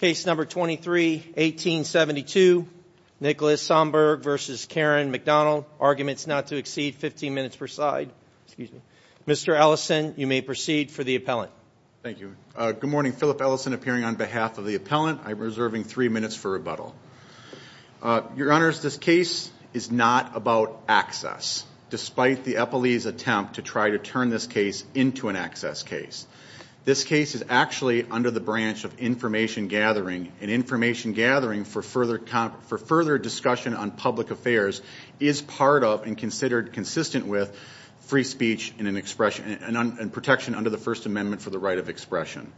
Case number 23, 1872, Nicholas Somberg v. Karen McDonald. Arguments not to exceed 15 minutes per side. Mr. Ellison, you may proceed for the appellant. Thank you. Good morning, Philip Ellison appearing on behalf of the appellant. I'm reserving three minutes for rebuttal. Your Honors, this case is not about access, despite the Eppley's attempt to try to turn this case into an access case. This case is actually under the branch of information gathering and information gathering for further discussion on public affairs is part of and considered consistent with free speech and protection under the First Amendment for the right of expression.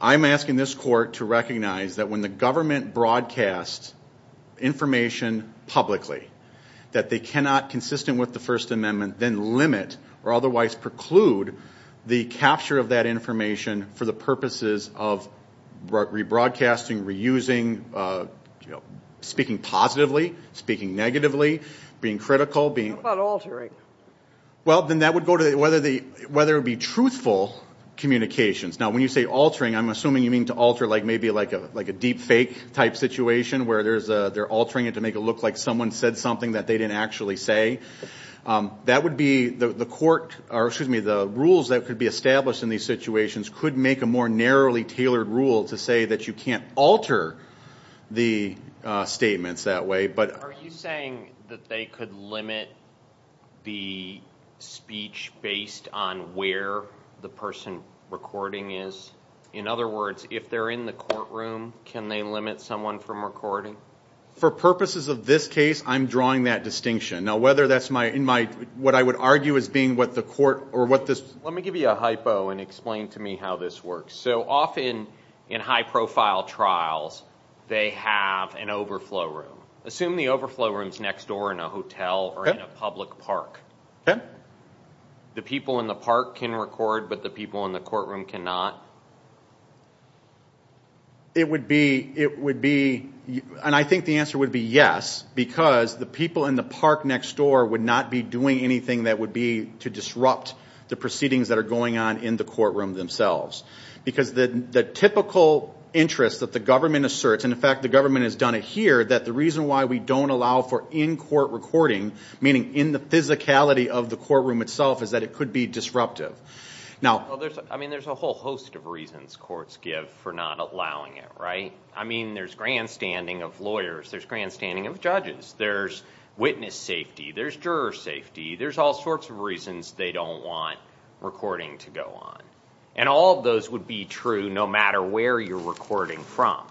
I'm asking this court to recognize that when the government broadcasts information publicly that they cannot consistent with the First Amendment then limit or otherwise preclude the capture of that information for the purposes of rebroadcasting, reusing, speaking positively, speaking negatively, being critical. How about altering? Well, then that would go to whether it would be truthful communications. Now when you say altering, I'm assuming you mean to alter like maybe like a deep fake type situation where they're altering it to make it look like someone said something that they didn't actually say. That would be the court or excuse me, the rules that could be established in these situations could make a more narrowly tailored rule to say that you can't alter the statements that way. But are you saying that they could limit the speech based on where the person recording is? In other words, if they're in the courtroom, can they limit someone from recording? For purposes of this case, I'm drawing that distinction. Now, whether that's my, in my, what I would argue as being what the court or what this... Let me give you a hypo and explain to me how this works. So often in high profile trials, they have an overflow room. Assume the overflow room's next door in a hotel or in a public park. Okay. The people in the park can record, but the people in the courtroom cannot? It would be, it would be, and I think the answer would be yes, because the people in the park next door would not be doing anything that would be to disrupt the proceedings that are going on in the courtroom themselves. Because the typical interest that the government asserts, and in fact, the government has done it here, that the reason why we don't allow for in-court recording, meaning in the physicality of the courtroom itself, is that it could be disruptive. Now, I mean, there's a whole host of reasons courts give for not allowing it, right? I mean, there's grandstanding of lawyers. There's grandstanding of judges. There's witness safety. There's juror safety. There's all sorts of reasons they don't want recording to go on. And all of those would be true, no matter where you're recording from.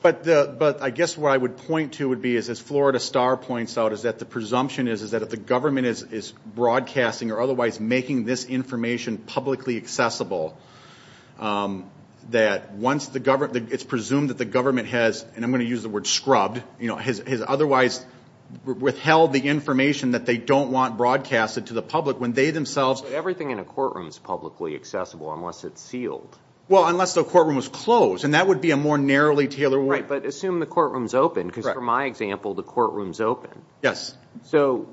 But the, but I guess what I would point to would be, is as Florida Star points out, is that the presumption is, is that if the government is broadcasting or otherwise making this information publicly accessible, that once the government, it's presumed that the government has, and I'm going to use the word scrubbed, you know, has otherwise withheld the information that they don't want broadcasted to the public when they themselves. So everything in a courtroom is publicly accessible unless it's sealed. Well, unless the courtroom was closed, and that would be a more narrowly tailored way. Right, but assume the courtroom is open, because for my example, the courtroom is open. Yes. So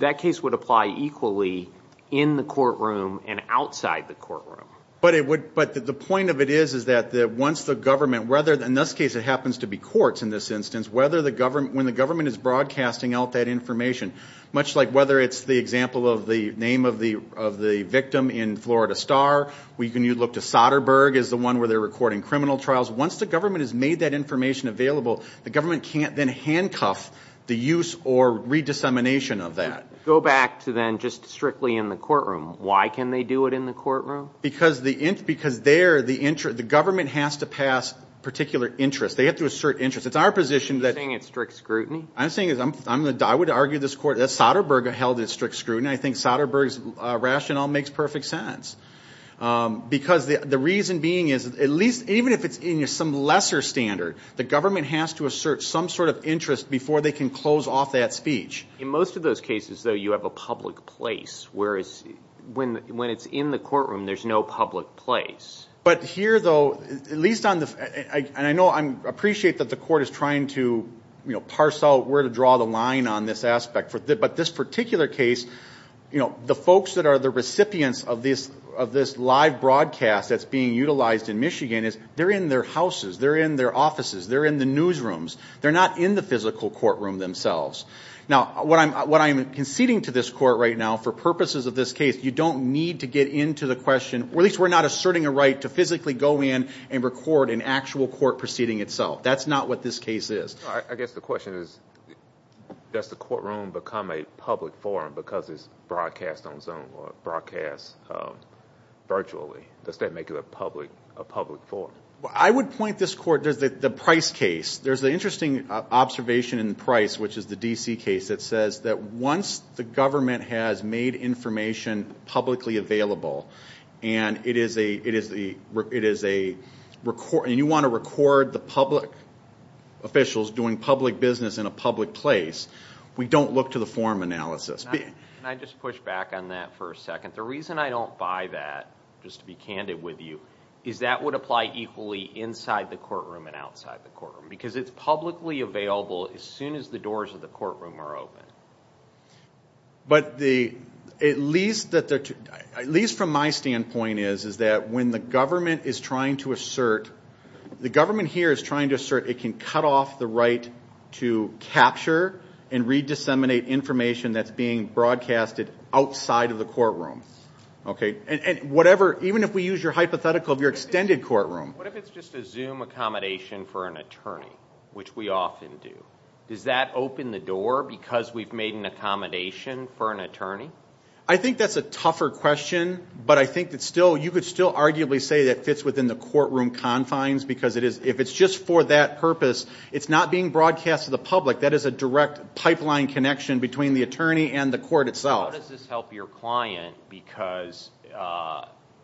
that case would apply equally in the courtroom and outside the courtroom. But it would, but the point of it is, is that once the government, whether, in this case, it happens to be courts in this instance, whether the government, when the government is broadcasting out that information, much like whether it's the example of the name of the, of the victim in Florida Star, we can, you look to Soderbergh is the one where they're recording criminal trials. Once the government has made that information available, the government can't then handcuff the use or re-dissemination of that. Go back to then just strictly in the courtroom. Why can they do it in the courtroom? Because the, because there, the, the government has to pass particular interest. They have to assert interest. It's our position that. You're saying it's strict scrutiny? I'm saying is I'm, I'm going to, I would argue this court, that Soderbergh held it strict scrutiny. I think Soderbergh's rationale makes perfect sense. Because the, the reason being is at least, even if it's in some lesser standard, the government has to assert some sort of interest before they can close off that speech. In most of those cases, though, you have a public place, whereas when, when it's in the courtroom, there's no public place. But here though, at least on the, I, and I know I'm appreciate that the court is trying to, you know, parse out where to draw the line on this aspect for the, but this particular case, you know, the folks that are the recipients of this, of this live broadcast that's being utilized in Michigan is they're in their houses. They're in their offices. They're in the newsrooms. They're not in the physical courtroom themselves. Now, what I'm, what I'm conceding to this court right now for purposes of this case, you don't need to get into the question, or at least we're not asserting a right to physically go in and record an actual court proceeding itself. That's not what this case is. I guess the question is, does the courtroom become a public forum because it's broadcast on Zoom or broadcast virtually? Does that make it a public, a public forum? Well, I would point this court, there's the Price case, there's the interesting observation in Price, which is the DC case that says that once the government has made information publicly available and it is a, it is the, it is a record and you want to record the public officials doing public business in a public place, we don't look to the forum analysis. Can I just push back on that for a second? The reason I don't buy that, just to be candid with you, is that would apply equally inside the courtroom and outside the courtroom because it's publicly available as soon as the doors of the courtroom are open. But the, at least that the, at least from my standpoint is, is that when the government is trying to assert, the government here is trying to assert it can cut off the right to capture and re disseminate information that's being broadcasted outside of the courtroom. Okay. And whatever, even if we use your hypothetical of your extended courtroom. What if it's just a Zoom accommodation for an attorney, which we often do, does that open the door because we've made an accommodation for an attorney? I think that's a tougher question, but I think that still, you could still arguably say that fits within the courtroom confines because it is, if it's just for that purpose, it's not being broadcast to the public. That is a direct pipeline connection between the attorney and the court itself. How does this help your client? Because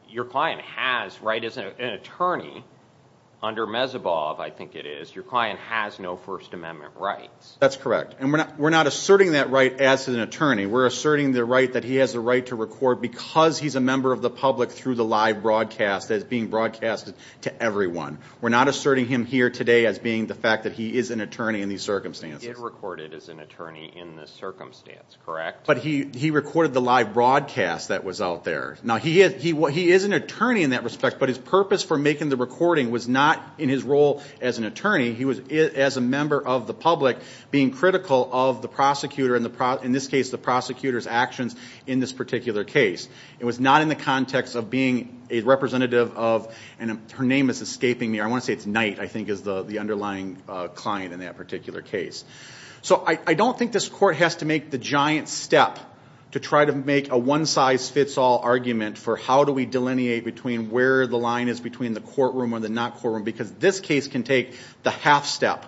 your client has, right, as an attorney under Mezebov, I think it is, your client has no first amendment rights. That's correct. And we're not, we're not asserting that right as an attorney. We're asserting the right that he has the right to record because he's a member of the public through the live broadcast as being broadcasted to everyone. We're not asserting him here today as being the fact that he is an attorney in these circumstances. But he is recorded as an attorney in this circumstance, correct? But he, he recorded the live broadcast that was out there. Now he is, he is an attorney in that respect, but his purpose for making the recording was not in his role as an attorney. He was, as a member of the public, being critical of the prosecutor and the, in this case, the prosecutor's actions in this particular case. It was not in the context of being a representative of, and her name is escaping me. I want to say it's Knight, I think is the underlying client in that particular case. So I don't think this court has to make the giant step to try to make a one size fits all argument for how do we delineate between where the line is between the courtroom or the not courtroom, because this case can take the half step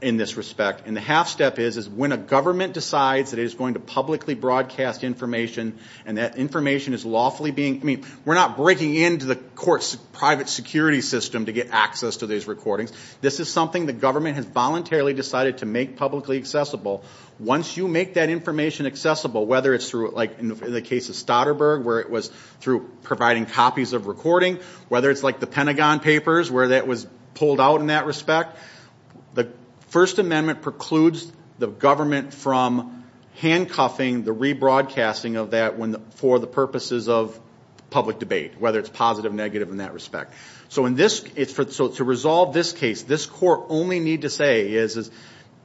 in this respect. And the half step is, is when a government decides that it is going to publicly broadcast information and that information is lawfully being, I mean, we're not breaking into the court's private security system to get access to these recordings. This is something the government has voluntarily decided to make publicly accessible. Once you make that information accessible, whether it's through like in the case of Stoddard Berg, where it was through providing copies of recording, whether it's like the that was pulled out in that respect, the first amendment precludes the government from handcuffing the rebroadcasting of that when for the purposes of public debate, whether it's positive, negative in that respect. So in this it's for, so to resolve this case, this court only need to say is, is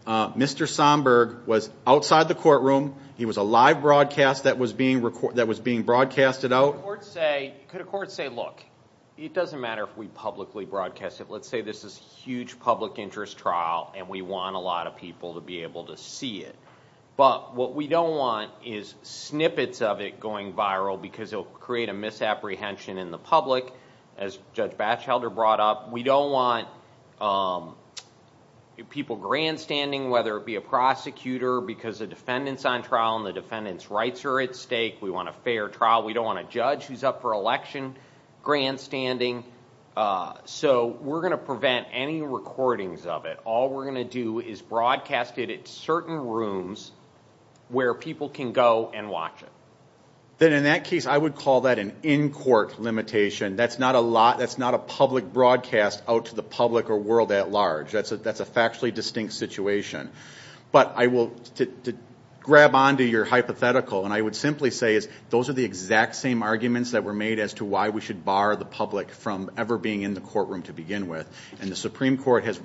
Mr. Somburg was outside the courtroom. He was a live broadcast that was being recorded, that was being broadcasted out. Court say, could a court say, look, it doesn't matter if we publicly broadcast it. Let's say this is huge public interest trial and we want a lot of people to be able to see it, but what we don't want is snippets of it going viral because it'll create a misapprehension in the public. As Judge Batchelder brought up, we don't want people grandstanding, whether it be a prosecutor because the defendants on trial and the defendant's rights are at stake. We want a fair trial. We don't want a judge who's up for election grandstanding, so we're going to prevent any recordings of it. All we're going to do is broadcast it at certain rooms where people can go and watch it. Then in that case, I would call that an in-court limitation. That's not a lot, that's not a public broadcast out to the public or world at large. That's a factually distinct situation. But I will, to grab onto your hypothetical and I would simply say is those are the exact same arguments that were made as to why we should bar the public from ever being in the courtroom to begin with, and the Supreme Court has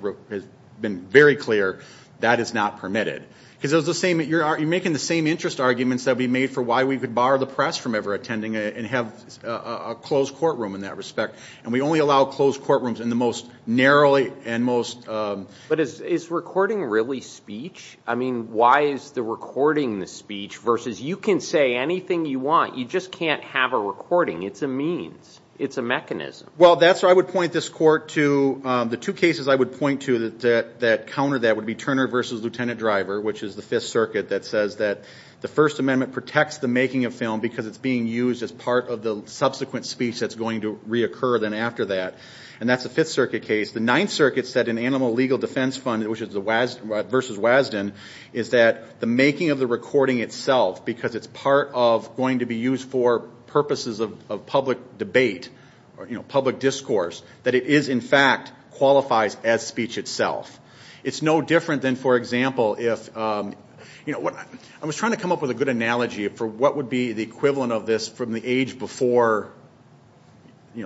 been very clear that is not permitted. Because you're making the same interest arguments that we made for why we could bar the press from ever attending and have a closed courtroom in that respect, and we only allow closed courtrooms in the most narrowly and most... But is recording really speech? I mean, why is the recording the speech versus you can say anything you want, you just can't have a recording. It's a means, it's a mechanism. Well, that's where I would point this court to the two cases I would point to that counter that would be Turner versus Lieutenant Driver, which is the Fifth Circuit that says that the First Amendment protects the making of film because it's being used as part of the subsequent speech that's going to reoccur then after that, and that's the Fifth Circuit case. The Ninth Circuit said in Animal Legal Defense Fund, which is the WASD versus WASDN, is that the making of the recording itself because it's part of going to be used for purposes of public debate or public discourse that it is, in fact, qualifies as speech itself. It's no different than, for example, if... I was trying to come up with a good analogy for what would be the equivalent of this from the age before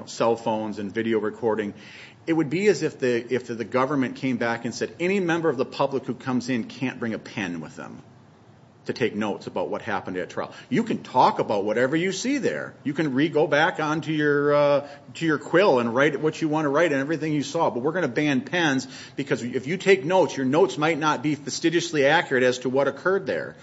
cell phones and video recording. It would be as if the government came back and said, any member of the public who comes in can't bring a pen with them to take notes about what happened at trial. You can talk about whatever you see there. You can re-go back on to your quill and write what you want to write and everything you saw, but we're going to ban pens because if you take notes, your notes might not be fastidiously accurate as to what occurred there.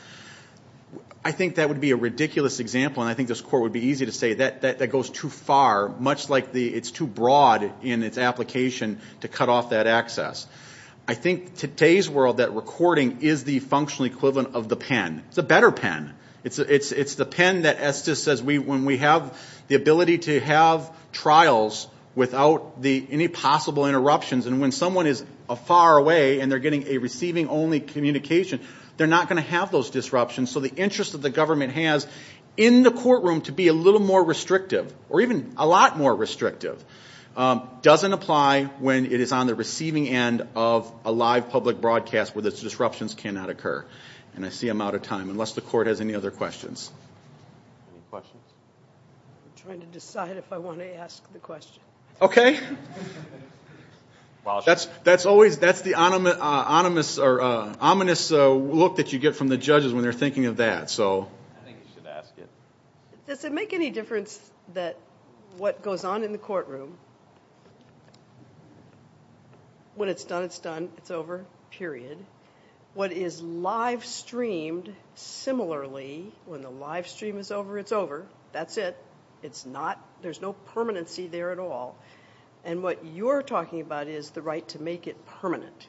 I think that would be a ridiculous example, and I think this Court would be easy to say that that goes too far, much like it's too broad in its application to cut off that access. I think today's world, that recording is the functional equivalent of the pen. It's a better pen. It's the pen that, as Estes says, when we have the ability to have trials without any possible interruptions, and when someone is far away and they're getting a receiving only communication, they're not going to have those disruptions. So the interest that the government has in the courtroom to be a little more restrictive, or even a lot more restrictive, doesn't apply when it is on the receiving end of a live public broadcast where those disruptions cannot occur. And I see I'm out of time, unless the Court has any other questions. Any questions? I'm trying to decide if I want to ask the question. Okay. That's always, that's the ominous look that you get from the judges when they're thinking of that, so. I think you should ask it. Does it make any difference that what goes on in the courtroom, when it's done, it's done, it's over, period. What is live-streamed similarly, when the live stream is over, it's over, that's it. It's not, there's no permanency there at all. And what you're talking about is the right to make it permanent.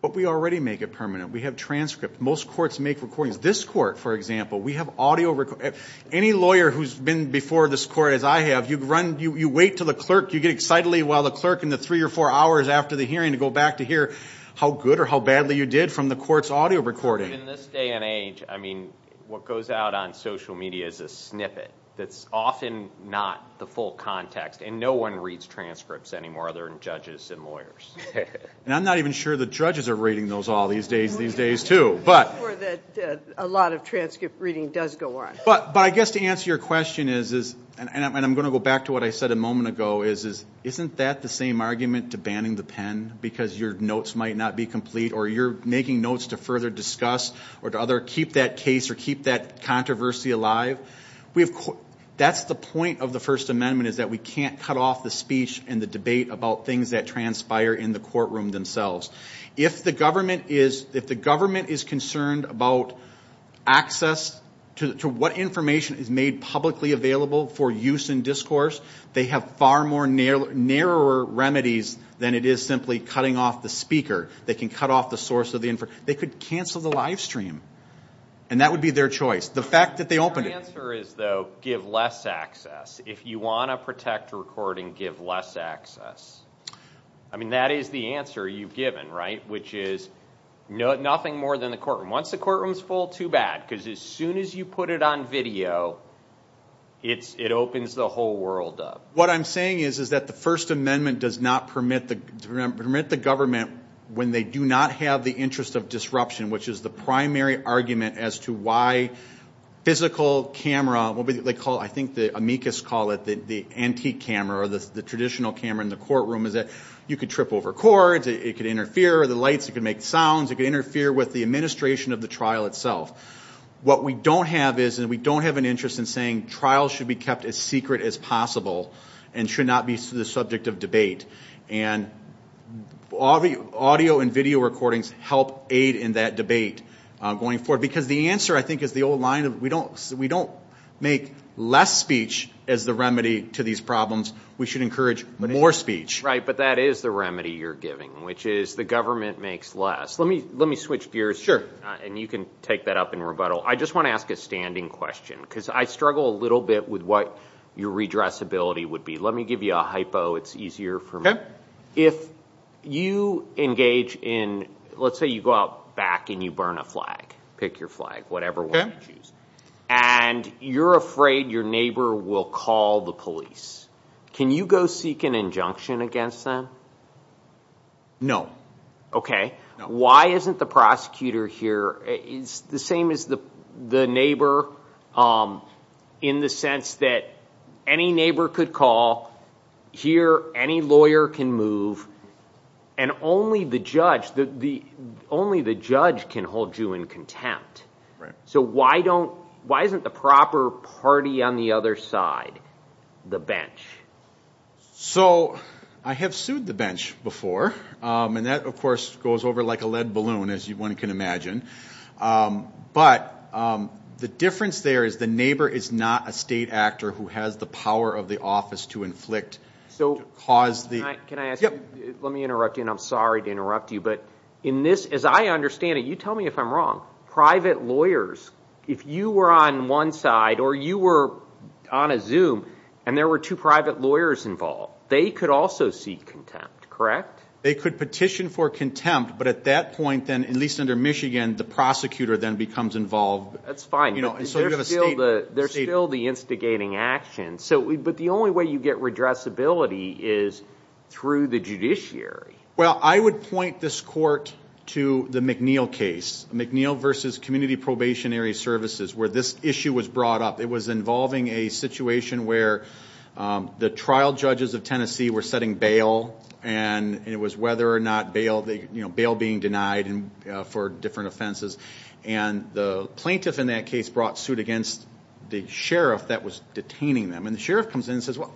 But we already make it permanent. We have transcripts. Most courts make recordings. This Court, for example, we have audio record, any lawyer who's been before this Court as I have, you run, you wait till the clerk, you get excitedly while the clerk in the three or four hours after the hearing to go back to hear how good or how badly you did from the court's audio recording. In this day and age, I mean, what goes out on social media is a snippet that's often not the full context, and no one reads transcripts anymore other than judges and lawyers. And I'm not even sure the judges are reading those all these days, these days, too. But a lot of transcript reading does go on. But I guess to answer your question is, and I'm going to go back to what I said a moment ago, is isn't that the same argument to banning the pen, because your notes might not be complete, or you're making notes to further discuss, or to other, keep that case, or keep that controversy alive. We've, that's the point of the First Amendment, is that we can't cut off the speech and the debate about things that transpire in the courtroom themselves. If the government is, if the government is concerned about access to what information is made publicly available for use in discourse, they have far more narrow, narrower remedies than it is simply cutting off the speaker. They can cut off the source of the, they could cancel the live stream, and that would be their choice. The fact that they opened it. Your answer is though, give less access. If you want to protect recording, give less access. I mean, that is the answer you've given, right? Which is nothing more than the courtroom. Once the courtroom's full, too bad, because as soon as you put it on video, it's, it opens the whole world up. What I'm saying is, is that the First Amendment does not permit the, permit the government, when they do not have the interest of disruption, which is the primary argument as to why physical camera, what they call, I think the amicus call it, the antique camera, or the traditional camera in the courtroom, is that you could trip over cords, it could interfere, the lights, it could make sounds, it could interfere with the administration of the trial itself. What we don't have is, and we don't have an interest in saying trials should be kept as secret as possible, and should not be the subject of debate. And audio and video recordings help aid in that debate going forward. Because the answer, I think, is the old line of, we don't, we don't make less speech as the remedy to these problems. We should encourage more speech. Right, but that is the remedy you're giving, which is the government makes less. Let me, let me switch gears. Sure. And you can take that up in rebuttal. I just want to ask a standing question, because I struggle a little bit with what your redressability would be. Let me give you a hypo, it's easier for me. If you engage in, let's say you go out back and you burn a flag, pick your flag, whatever one you choose, and you're afraid your neighbor will call the police, can you go seek an injunction against them? No. Okay. Why isn't the prosecutor here, it's the same as the the neighbor, in the sense that any neighbor could call, here any lawyer can move, and only the judge, the, the, only the judge can hold you in contempt. So why don't, why isn't the proper party on the other side the bench? So I have sued the bench before, and that of course goes over like a lead balloon, as you one can imagine, but the difference there is the neighbor is not a state actor who has the power of the office to inflict, so cause the... Can I ask you, let me interrupt you, and I'm sorry to interrupt you, but in this, as I understand it, you tell me if I'm wrong, private lawyers, if you were on one side, or you were on a Zoom, and there were two private lawyers involved, they could also seek contempt, correct? They could petition for contempt, but at that point then, at least under Michigan, the prosecutor then becomes involved. That's fine, you know, there's still the instigating action, so, but the only way you get redressability is through the judiciary. Well, I would point this court to the McNeil case, McNeil versus Community Probationary Services, where this issue was brought up. It was involving a situation where the trial judges of Tennessee were setting bail, and it was whether or not bail, you know, bail being denied, and for different offenses, and the plaintiff in that case brought suit against the sheriff that was detaining them, and the sheriff comes in and says, well,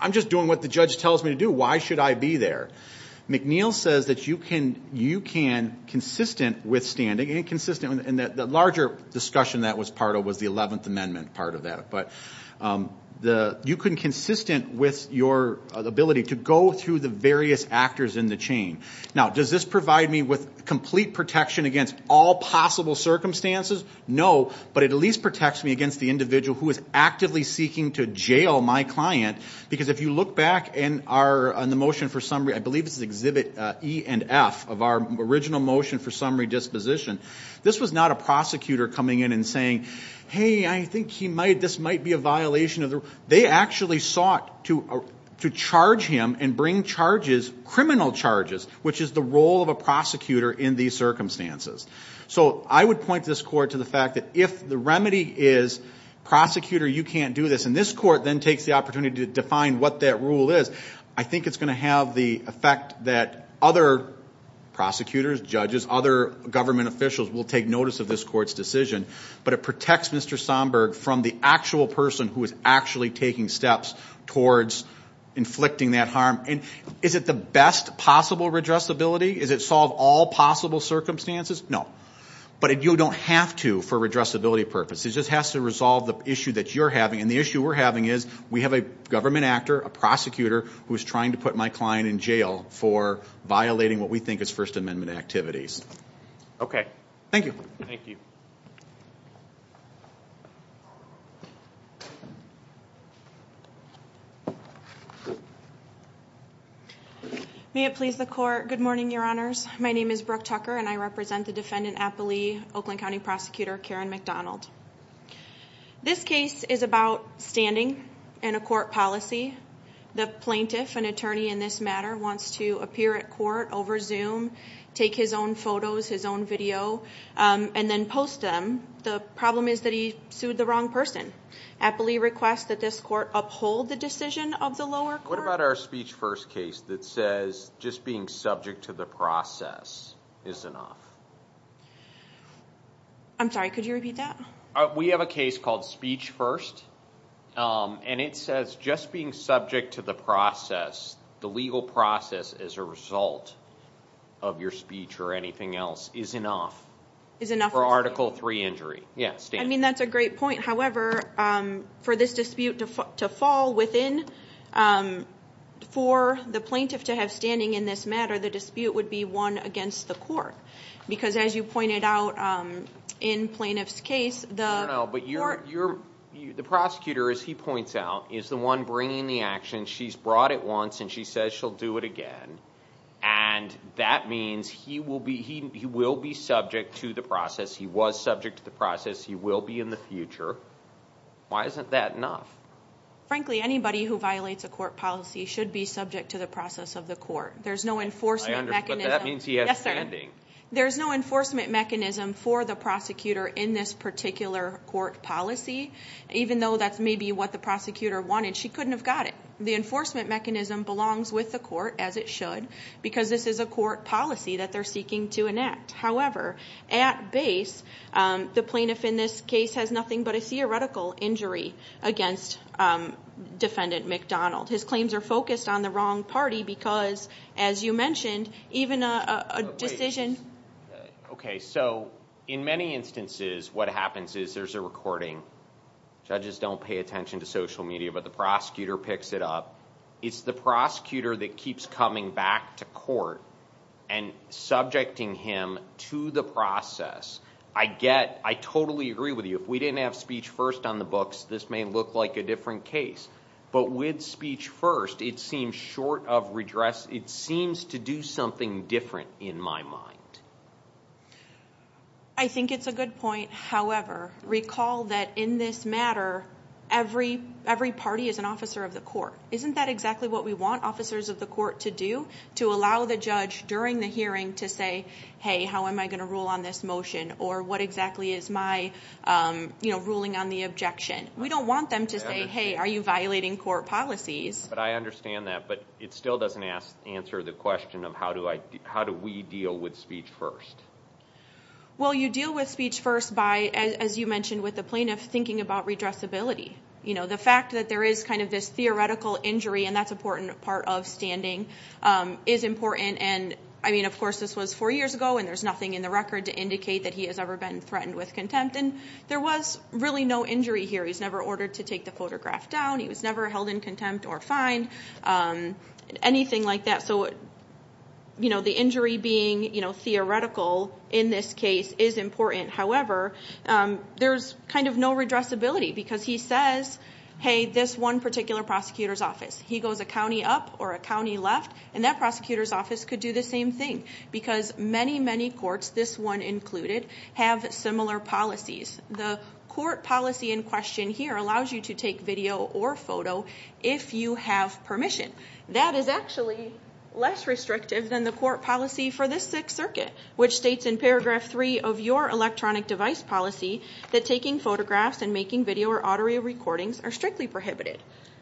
I'm just doing what the judge tells me to do, why should I be there? McNeil says that you can, you can consistent with standing, and consistent in that the larger discussion that was part of was the 11th Amendment part of that, but the, you can consistent with your ability to go through the various actors in the chain. Now, does this provide me with complete protection against all possible circumstances? No, but it at least protects me against the individual who is actively seeking to jail my client, because if you look back in our, on the motion for summary, I believe this is exhibit E and F of our original motion for summary disposition, this was not a prosecutor coming in and saying, hey, I think he might, this might be a violation of the rule. They actually sought to, to charge him and bring charges, criminal charges, which is the role of a prosecutor in these circumstances. So, I would point this court to the fact that if the remedy is prosecutor, you can't do this, and this court then takes the opportunity to define what that rule is, I think it's going to have the effect that other prosecutors, judges, other government officials will take notice of this court's decision, but it protects Mr. Somburg from the actual person who is actually taking steps towards inflicting that harm, and is it the best possible redressability? Is it solve all possible circumstances? No. But you don't have to for redressability purposes, it just has to resolve the issue that you're having, and the issue we're having is, we have a government actor, a prosecutor, who's trying to put my client in jail for violating what we think is First Amendment activities. Okay. Thank you. Thank you. May it please the court, good morning your honors, my name is Brooke Tucker and I represent the defendant Applee Oakland County Prosecutor Karen McDonald. This case is about standing in a court policy. The plaintiff, an attorney in this matter, wants to appear at court over Zoom, take his own photos, his own video, and then post them. The problem is that he sued the wrong person. Applee requests that this court uphold the decision of the lower court. What about our speech first case that says just being subject to the process is enough? I'm sorry, could you repeat that? We have a case called speech first, and it says just being subject to the process, the legal process as a result of your speech or anything else, is enough. Is enough for Article 3 injury? Yes. I mean that's a great point, however, for this dispute to fall within, for the plaintiff to have standing in this matter, the dispute would be won against the court. Because as you pointed out in plaintiff's case, the court... No, no, but the prosecutor, as he points out, is the one bringing the action. She's brought it once and she says she'll do it again, and that means he will be, he will be subject to the process, he was subject to the process, he will be in the future. Why isn't that enough? Frankly, anybody who violates a court policy should be subject to the process of the court. There's no enforcement mechanism. I understand, but that means he has standing. There's no enforcement mechanism for the prosecutor in this particular court policy, even though that's maybe what the prosecutor wanted. She couldn't have got it. The enforcement mechanism belongs with the court, as it should, because this is a court policy that they're seeking to enact. However, at base, the plaintiff in this case has nothing but a theoretical injury against defendant McDonald. His claims are focused on the wrong party because, as you mentioned, even a decision... Okay, so in many instances what happens is there's a recording. Judges don't pay attention to social media, but the prosecutor picks it up. It's the prosecutor that keeps coming back to court and subjecting him to the process. I get, I totally agree with you. If we didn't have speech first on the books, this may look like a different case, but with speech first, it seems short of redress. It seems to do something different in my mind. I think it's a good point. However, recall that in this matter, every party is an officer of the court. Isn't that exactly what we want officers of the court to do? To allow the judge during the hearing to say, hey, how am I going to rule on this motion? Or what exactly is my, you know, ruling on the objection? We don't want them to say, hey, are you violating court policies? But I understand that, but it still doesn't answer the question of how do I, how do we deal with speech first? Well, you deal with speech first by, as you mentioned, with the plaintiff thinking about redressability. You know, the fact that there is kind of this theoretical injury, and that's an important part of standing, is important. And I mean, of course, this was four years ago, and there's nothing in the record to indicate that he has ever been threatened with contempt. And there was really no injury here. He's never ordered to take the photograph down. He was never held in contempt or fined, anything like that. So, you know, the injury being, you know, theoretical in this case is important. However, there's kind of no redressability, because he says, hey, this one particular prosecutor's office, he goes a county up or a county left, and that prosecutor's office could do the same thing. Because many, many courts, this one included, have similar policies. The court policy in question here allows you to take video or photo if you have permission. That is actually less restrictive than the court policy for this Sixth Circuit, which states in paragraph three of your electronic device policy that taking photographs and making video or audio recordings are strictly prohibited.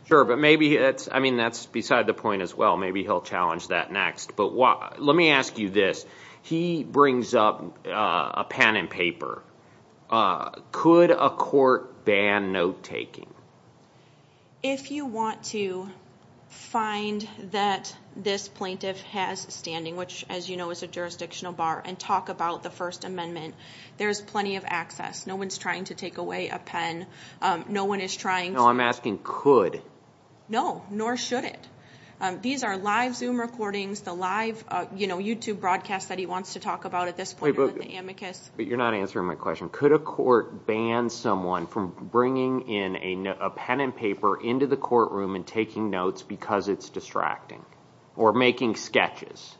Sure, but maybe that's, I mean, that's beside the point as well. Maybe he'll challenge that next. But what, let me ask you this. He brings up a pen and paper. Could a court ban note-taking? If you want to find that this plaintiff has standing, which, as you know, is a jurisdictional bar, and talk about the First Amendment, there's plenty of access. No one's trying to take away a pen. No one is trying to... No, I'm asking could. No, nor should it. These are live Zoom recordings, the live, you know, YouTube broadcast that he wants to talk about at this point about the amicus. But you're not answering my question. Could a pen and paper into the courtroom and taking notes because it's distracting or making sketches?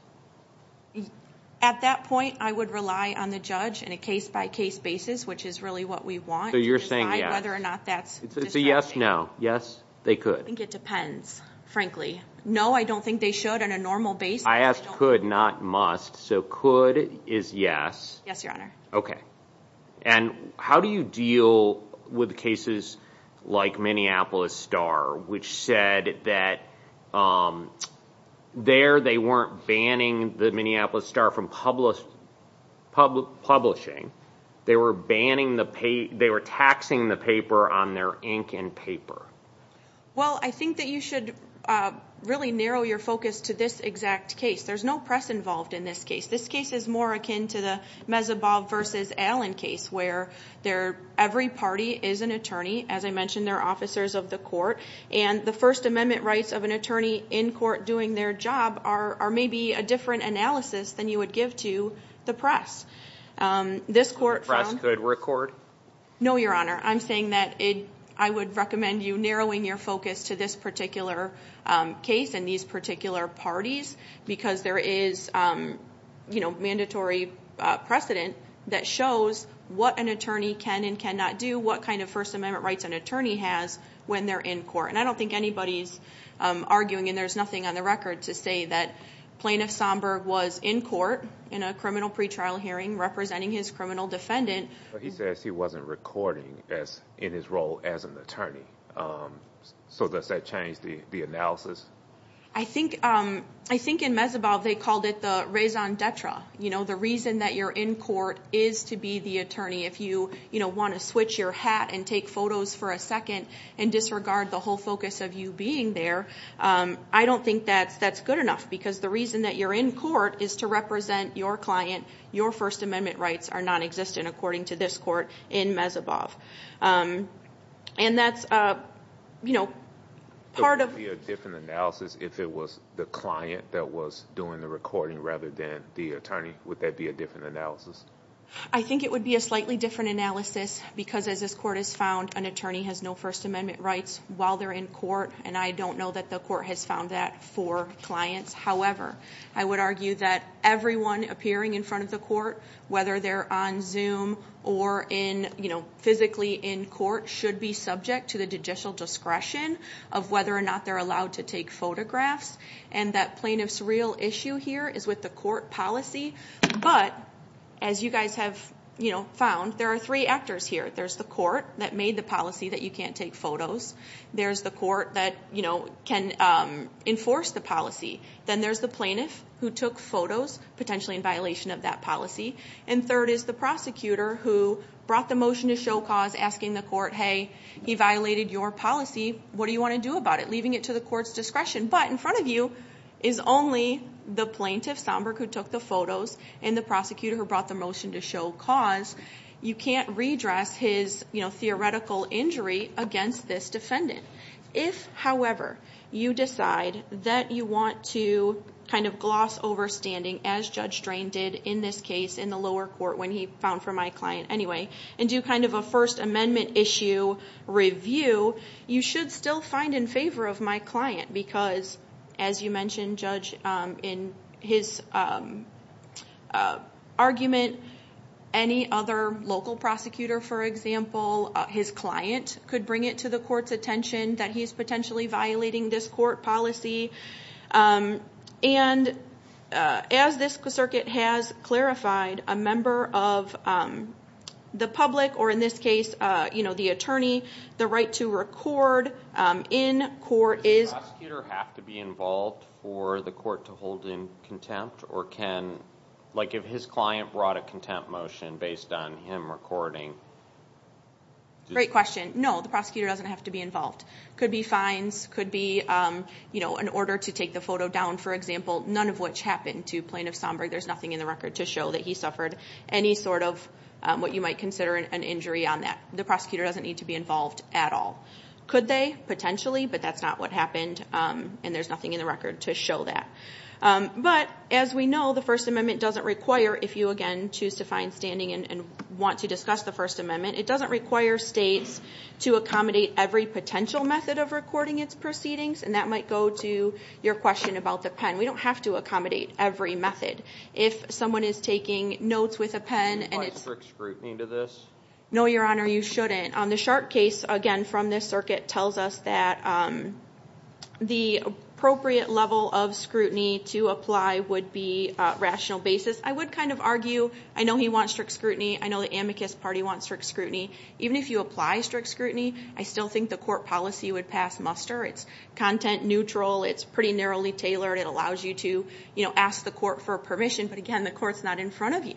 At that point, I would rely on the judge in a case-by-case basis, which is really what we want. So you're saying whether or not that's... It's a yes-no. Yes, they could. I think it depends, frankly. No, I don't think they should on a normal basis. I asked could, not must. So could is yes. Yes, Your Honor. Okay. And how do you deal with cases like Minneapolis Star, which said that there, they weren't banning the Minneapolis Star from publishing. They were banning the paper. They were taxing the paper on their ink and paper. Well, I think that you should really narrow your focus to this exact case. There's no press involved in this case. This case is more akin to the Mezebov versus Allen case, where every party is an attorney. As I mentioned, they're officers of the court. And the First Amendment rights of an attorney in court doing their job are maybe a different analysis than you would give to the press. This court... The press could record? No, Your Honor. I'm saying that it, I would recommend you narrowing your focus to this particular case and these particular parties because there is, you know, mandatory precedent that shows what an attorney can and cannot do, what kind of First Amendment rights an attorney has when they're in court. And I don't think anybody's arguing, and there's nothing on the record, to say that Plaintiff Somburg was in court in a criminal pretrial hearing representing his criminal defendant. But he says he wasn't recording as, in his role as an attorney. So does that change the analysis? I think, I think in Mezebov they called it the raison d'etre. You know, the reason that you're in court is to be the attorney. If you, you know, want to switch your hat and take photos for a second and disregard the whole focus of you being there, I don't think that's that's good enough because the reason that you're in court is to represent your client. Your First Amendment rights are non-existent according to this court in Mezebov. And that's, you know, part of... So would that be a different analysis if it was the client that was doing the recording rather than the attorney? Would that be a different analysis? I think it would be a slightly different analysis because as this court has found an attorney has no First Amendment rights while they're in court. And I don't know that the court has found that for clients. However, I would argue that everyone appearing in front of the court, whether they're on Zoom or in, you know, physically in court, should be subject to the judicial discretion of whether or not they're allowed to take photographs. And that plaintiff's real issue here is with the court policy. But as you guys have, you know, found, there are three actors here. There's the court that made the policy that you can't take photos. There's the court that, you know, can enforce the policy. Then there's the plaintiff who took photos, potentially in violation of that policy. And third is the prosecutor who brought the motion to show cause asking the court, hey, he violated your policy. What do you want to do about it? Leaving it to the court's discretion. But in front of you is only the plaintiff, Somburg, who took the photos and the prosecutor who brought the motion to show cause. You can't redress his, you know, theoretical injury against this defendant. If, however, you decide that you want to kind of gloss over standing, as Judge Drain did in this case in the lower court when he found for my client anyway, and do kind of a First Amendment issue review, you should still find in favor of my client. Because, as you mentioned, Judge, in his argument, any other local prosecutor, for example, his client, could bring it to the court's attention that he's potentially violating this court policy. And as this circuit has clarified, a member of the public, or in this case, you know, the attorney, the right to record in court is... Does the prosecutor have to be involved for the court to hold in contempt? Or can, like if his client brought a contempt motion based on him recording? Great question. No, the prosecutor doesn't have to be involved. Could be fines, could be, you know, an order to take the photo down, for example, none of which happened to Plaintiff Somburg. There's nothing in the record to show that he suffered any sort of what you might consider an injury on that. The prosecutor doesn't need to be involved at all. Could they? Potentially, but that's not what happened, and there's nothing in the record to show that. But as we know, the First Amendment doesn't require, if you again choose to find standing and want to discuss the First Amendment, it doesn't require states to accommodate every potential method of recording its proceedings, and that might go to your question about the pen. We don't have to accommodate every method. If someone is taking notes with a pen... Do you apply strict scrutiny to this? No, Your Honor, you shouldn't. On the Clark case, again from this circuit, tells us that the appropriate level of scrutiny to apply would be a rational basis. I would kind of argue, I know he wants strict scrutiny, I know the amicus party wants strict scrutiny. Even if you apply strict scrutiny, I still think the court policy would pass muster. It's content neutral, it's pretty narrowly tailored, it allows you to, you know, ask the court for permission, but again, the court's not in front of you.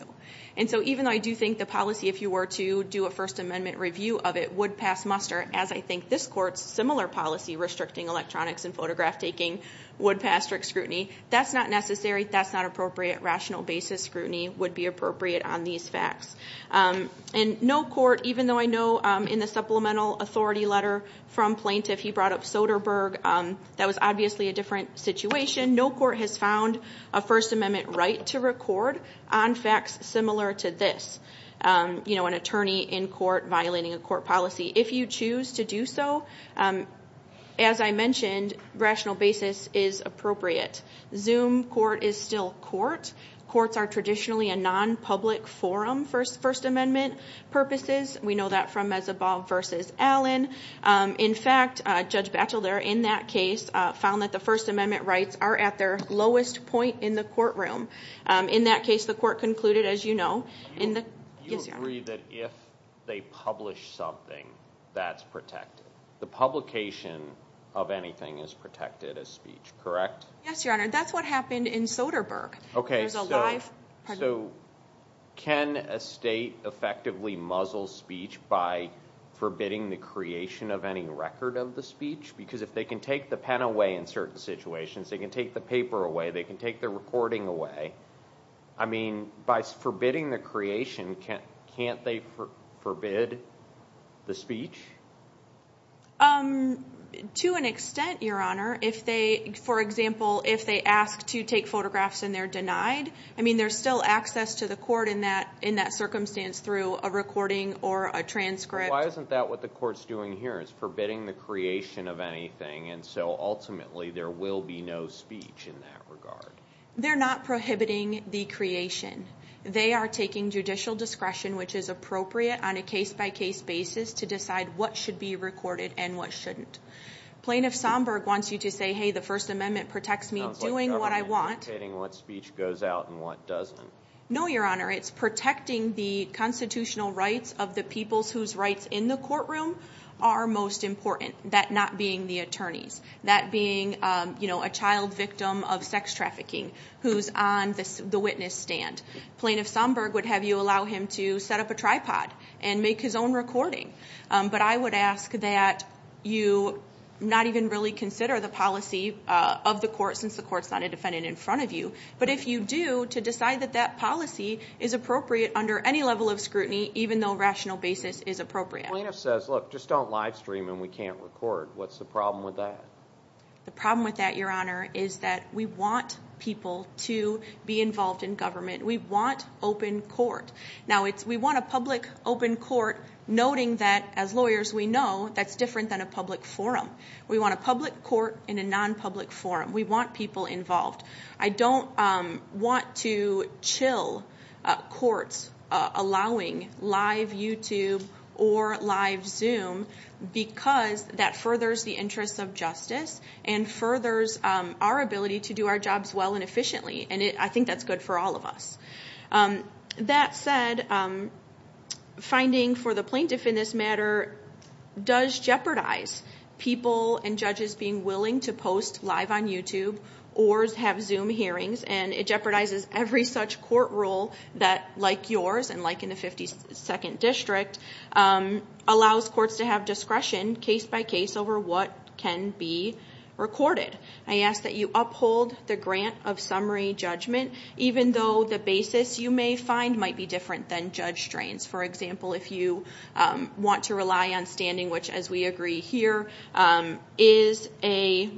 And so even though I do think the policy, if you were to do a First Amendment review of it, would pass muster, as I think this court's similar policy, restricting electronics and photograph taking, would pass strict scrutiny. That's not necessary, that's not appropriate. Rational basis scrutiny would be appropriate on these facts. And no court, even though I know in the supplemental authority letter from plaintiff, he brought up Soderberg, that was obviously a different situation, no court has found a First Amendment right to record on facts similar to this. You are violating a court policy. If you choose to do so, as I mentioned, rational basis is appropriate. Zoom court is still court. Courts are traditionally a non-public forum for First Amendment purposes. We know that from Mezobob versus Allen. In fact, Judge Batchelder in that case found that the First Amendment rights are at their lowest point in the courtroom. In that case, the court concluded, as you know, in the... You agree that if they publish something, that's protected. The publication of anything is protected as speech, correct? Yes, Your Honor. That's what happened in Soderberg. Okay, so can a state effectively muzzle speech by forbidding the creation of any record of the speech? Because if they can take the pen away in certain situations, they can take the paper away, they can take the recording away. I mean, by forbidding the creation, can't they forbid the speech? To an extent, Your Honor. If they, for example, if they ask to take photographs and they're denied, I mean, there's still access to the court in that circumstance through a recording or a transcript. Why isn't that what the court's doing here? It's forbidding the creation of anything, and so ultimately there will be no speech in that regard. They're not prohibiting the creation. They are taking judicial discretion which is appropriate on a case-by-case basis to decide what should be recorded and what shouldn't. Plaintiff Somburg wants you to say, hey, the First Amendment protects me doing what I want. Sounds like the government dictating what speech goes out and what doesn't. No, Your Honor. It's protecting the constitutional rights of the peoples whose rights in the courtroom are most important. That not being the attorneys, that being, you know, a child victim of sex trafficking who's on the witness stand. Plaintiff Somburg would have you allow him to set up a tripod and make his own recording, but I would ask that you not even really consider the policy of the court since the court's not a defendant in front of you, but if you do to decide that that policy is appropriate under any level of scrutiny even though a rational basis is appropriate. Plaintiff says, look, just don't live stream and we can't record. What's the problem with that? The problem with that, Your Honor, is that we want people to be involved in government. We want open court. Now, we want a public open court, noting that as lawyers we know that's different than a public forum. We want a public court in a non-public forum. We want people involved. I don't want to chill courts allowing live YouTube or live Zoom because that furthers the interests of justice and furthers our ability to do our jobs well and efficiently, and I think that's good for all of us. That said, finding for the plaintiff in this matter does jeopardize people and judges being willing to post live on YouTube or have Zoom hearings, and it jeopardizes every such court rule that, like yours and like in the 52nd District, allows courts to have discretion case-by-case over what can be recorded. I ask that you uphold the grant of summary judgment, even though the basis you may find might be different than judge strains. For example, if you want to rely on standing, which as we agree here, is a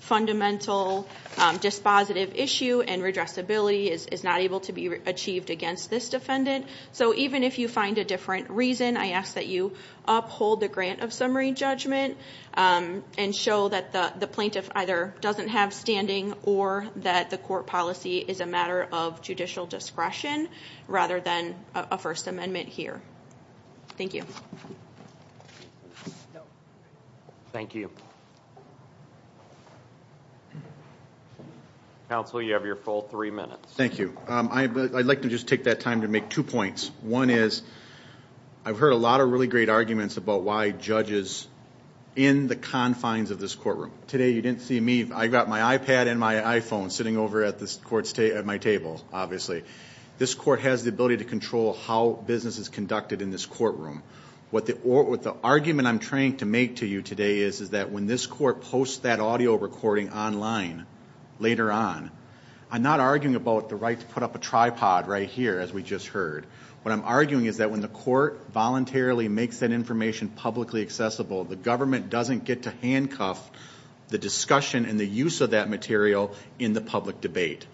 fundamental dispositive issue and redressability is not able to be achieved against this defendant. So even if you find a different reason, I ask that you uphold the grant of summary judgment and show that the plaintiff either doesn't have standing or that the court policy is a matter of judicial discretion rather than a First Amendment here. Thank you. Thank you. Counsel, you have your full three minutes. Thank you. I'd like to just take that time to make two points. One is, I've heard a lot of really great arguments about why judges in the confines of this courtroom. Today you didn't see me. I got my iPad and my iPhone sitting over at this court's table, at my table, obviously. This court has the ability to control how business is conducted in this courtroom. What the argument I'm trying to make to you today is, is that when this court posts that audio recording online later on, I'm not arguing about the right to put up a tripod right here, as we just heard. What I'm arguing is that when the court voluntarily makes that information publicly accessible, the government doesn't get to handcuff the discussion and the use of that material in the public debate.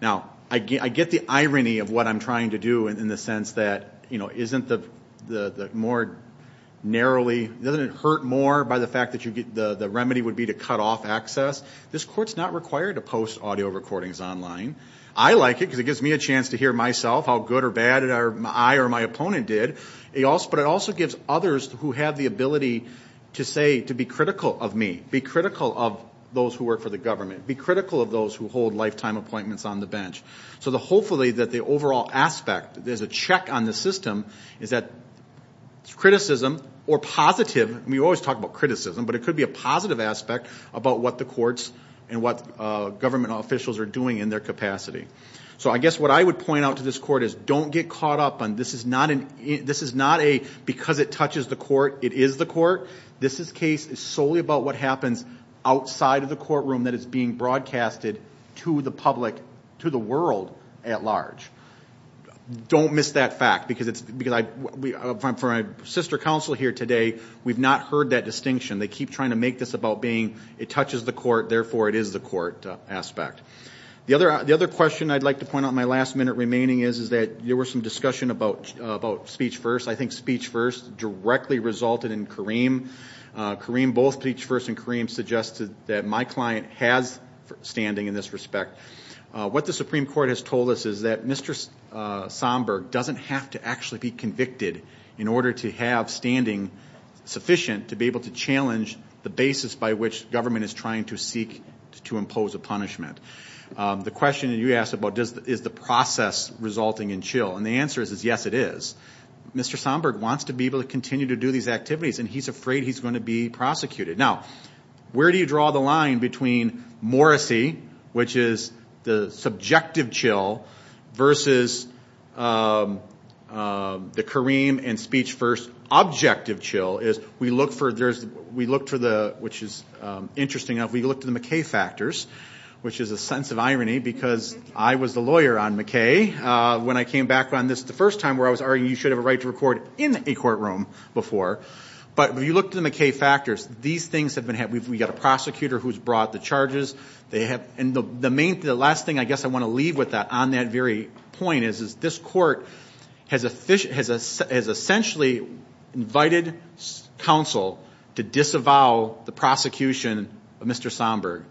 Now, I get the irony of what I'm trying to do in the sense that, you know, isn't the more narrowly, doesn't it hurt more by the fact that you get the remedy would be to cut off access? This court's not required to post audio recordings online. I like it because it gives me a chance to hear myself, how good or bad I or my opponent did. But it also gives others who have the ability to say, to be critical of me, be critical of those who work for the government, be critical of those who hold lifetime appointments on the bench. So the hopefully that the overall aspect, there's a check on the system, is that criticism or positive, we always talk about criticism, but it could be a positive aspect about what the courts and what government officials are doing in their capacity. So I guess what I would point out to this court is don't get caught up on this is not an, this is not a because it touches the court, it is the court. This is case is solely about what happens outside of the courtroom that is being broadcasted to the public, to the world at large. Don't miss that fact because it's because I, for my sister counsel here today, we've not heard that distinction. They keep trying to make this about being, it touches the court, therefore it is the court aspect. The other, the other question I'd like to point out my last minute remaining is, is that there were some discussion about, about speech first. I think speech first directly resulted in Kareem. Kareem, both speech first and Kareem suggested that my client has standing in this respect. What the Supreme Court has told us is that Mr. Somburg doesn't have to actually be convicted in order to have standing sufficient to be able to challenge the basis by which government is trying to seek to impose a punishment. The question you asked about does, is the process resulting in chill and the answer is yes it is. Mr. Somburg wants to be able to continue to do these activities and he's afraid he's going to be prosecuted. Now where do you draw the line between Morrissey, which is the subjective chill versus the Kareem and speech first objective chill is we look for, there's, we look for the, which is interesting enough, we look to the McKay factors, which is a sense of irony because I was the lawyer on McKay when I came back on this the first time where I was arguing you should have a right to record in a courtroom before, but when you look to the McKay factors, these things have been, we've got a prosecutor who's brought the charges, they have, and the main, the last thing I guess I want to leave with that on that very point is this court has officially, has essentially invited counsel to disavow the prosecution of Mr. Somburg.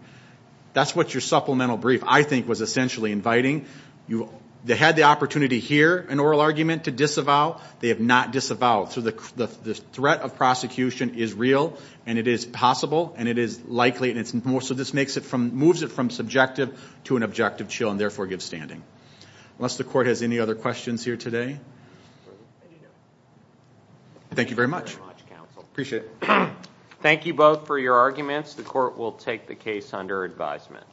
That's what your supplemental brief I think was essentially inviting. You, they had the opportunity here, an oral argument to disavow, they have not disavowed. So the threat of prosecution is real and it is possible and it is likely, and it's more, so this makes it from, moves it from subjective to an objective chill and therefore give standing. Unless the court has any other questions here today, thank you very much. Appreciate it. Thank you both for your arguments. The court will take the case under advisement.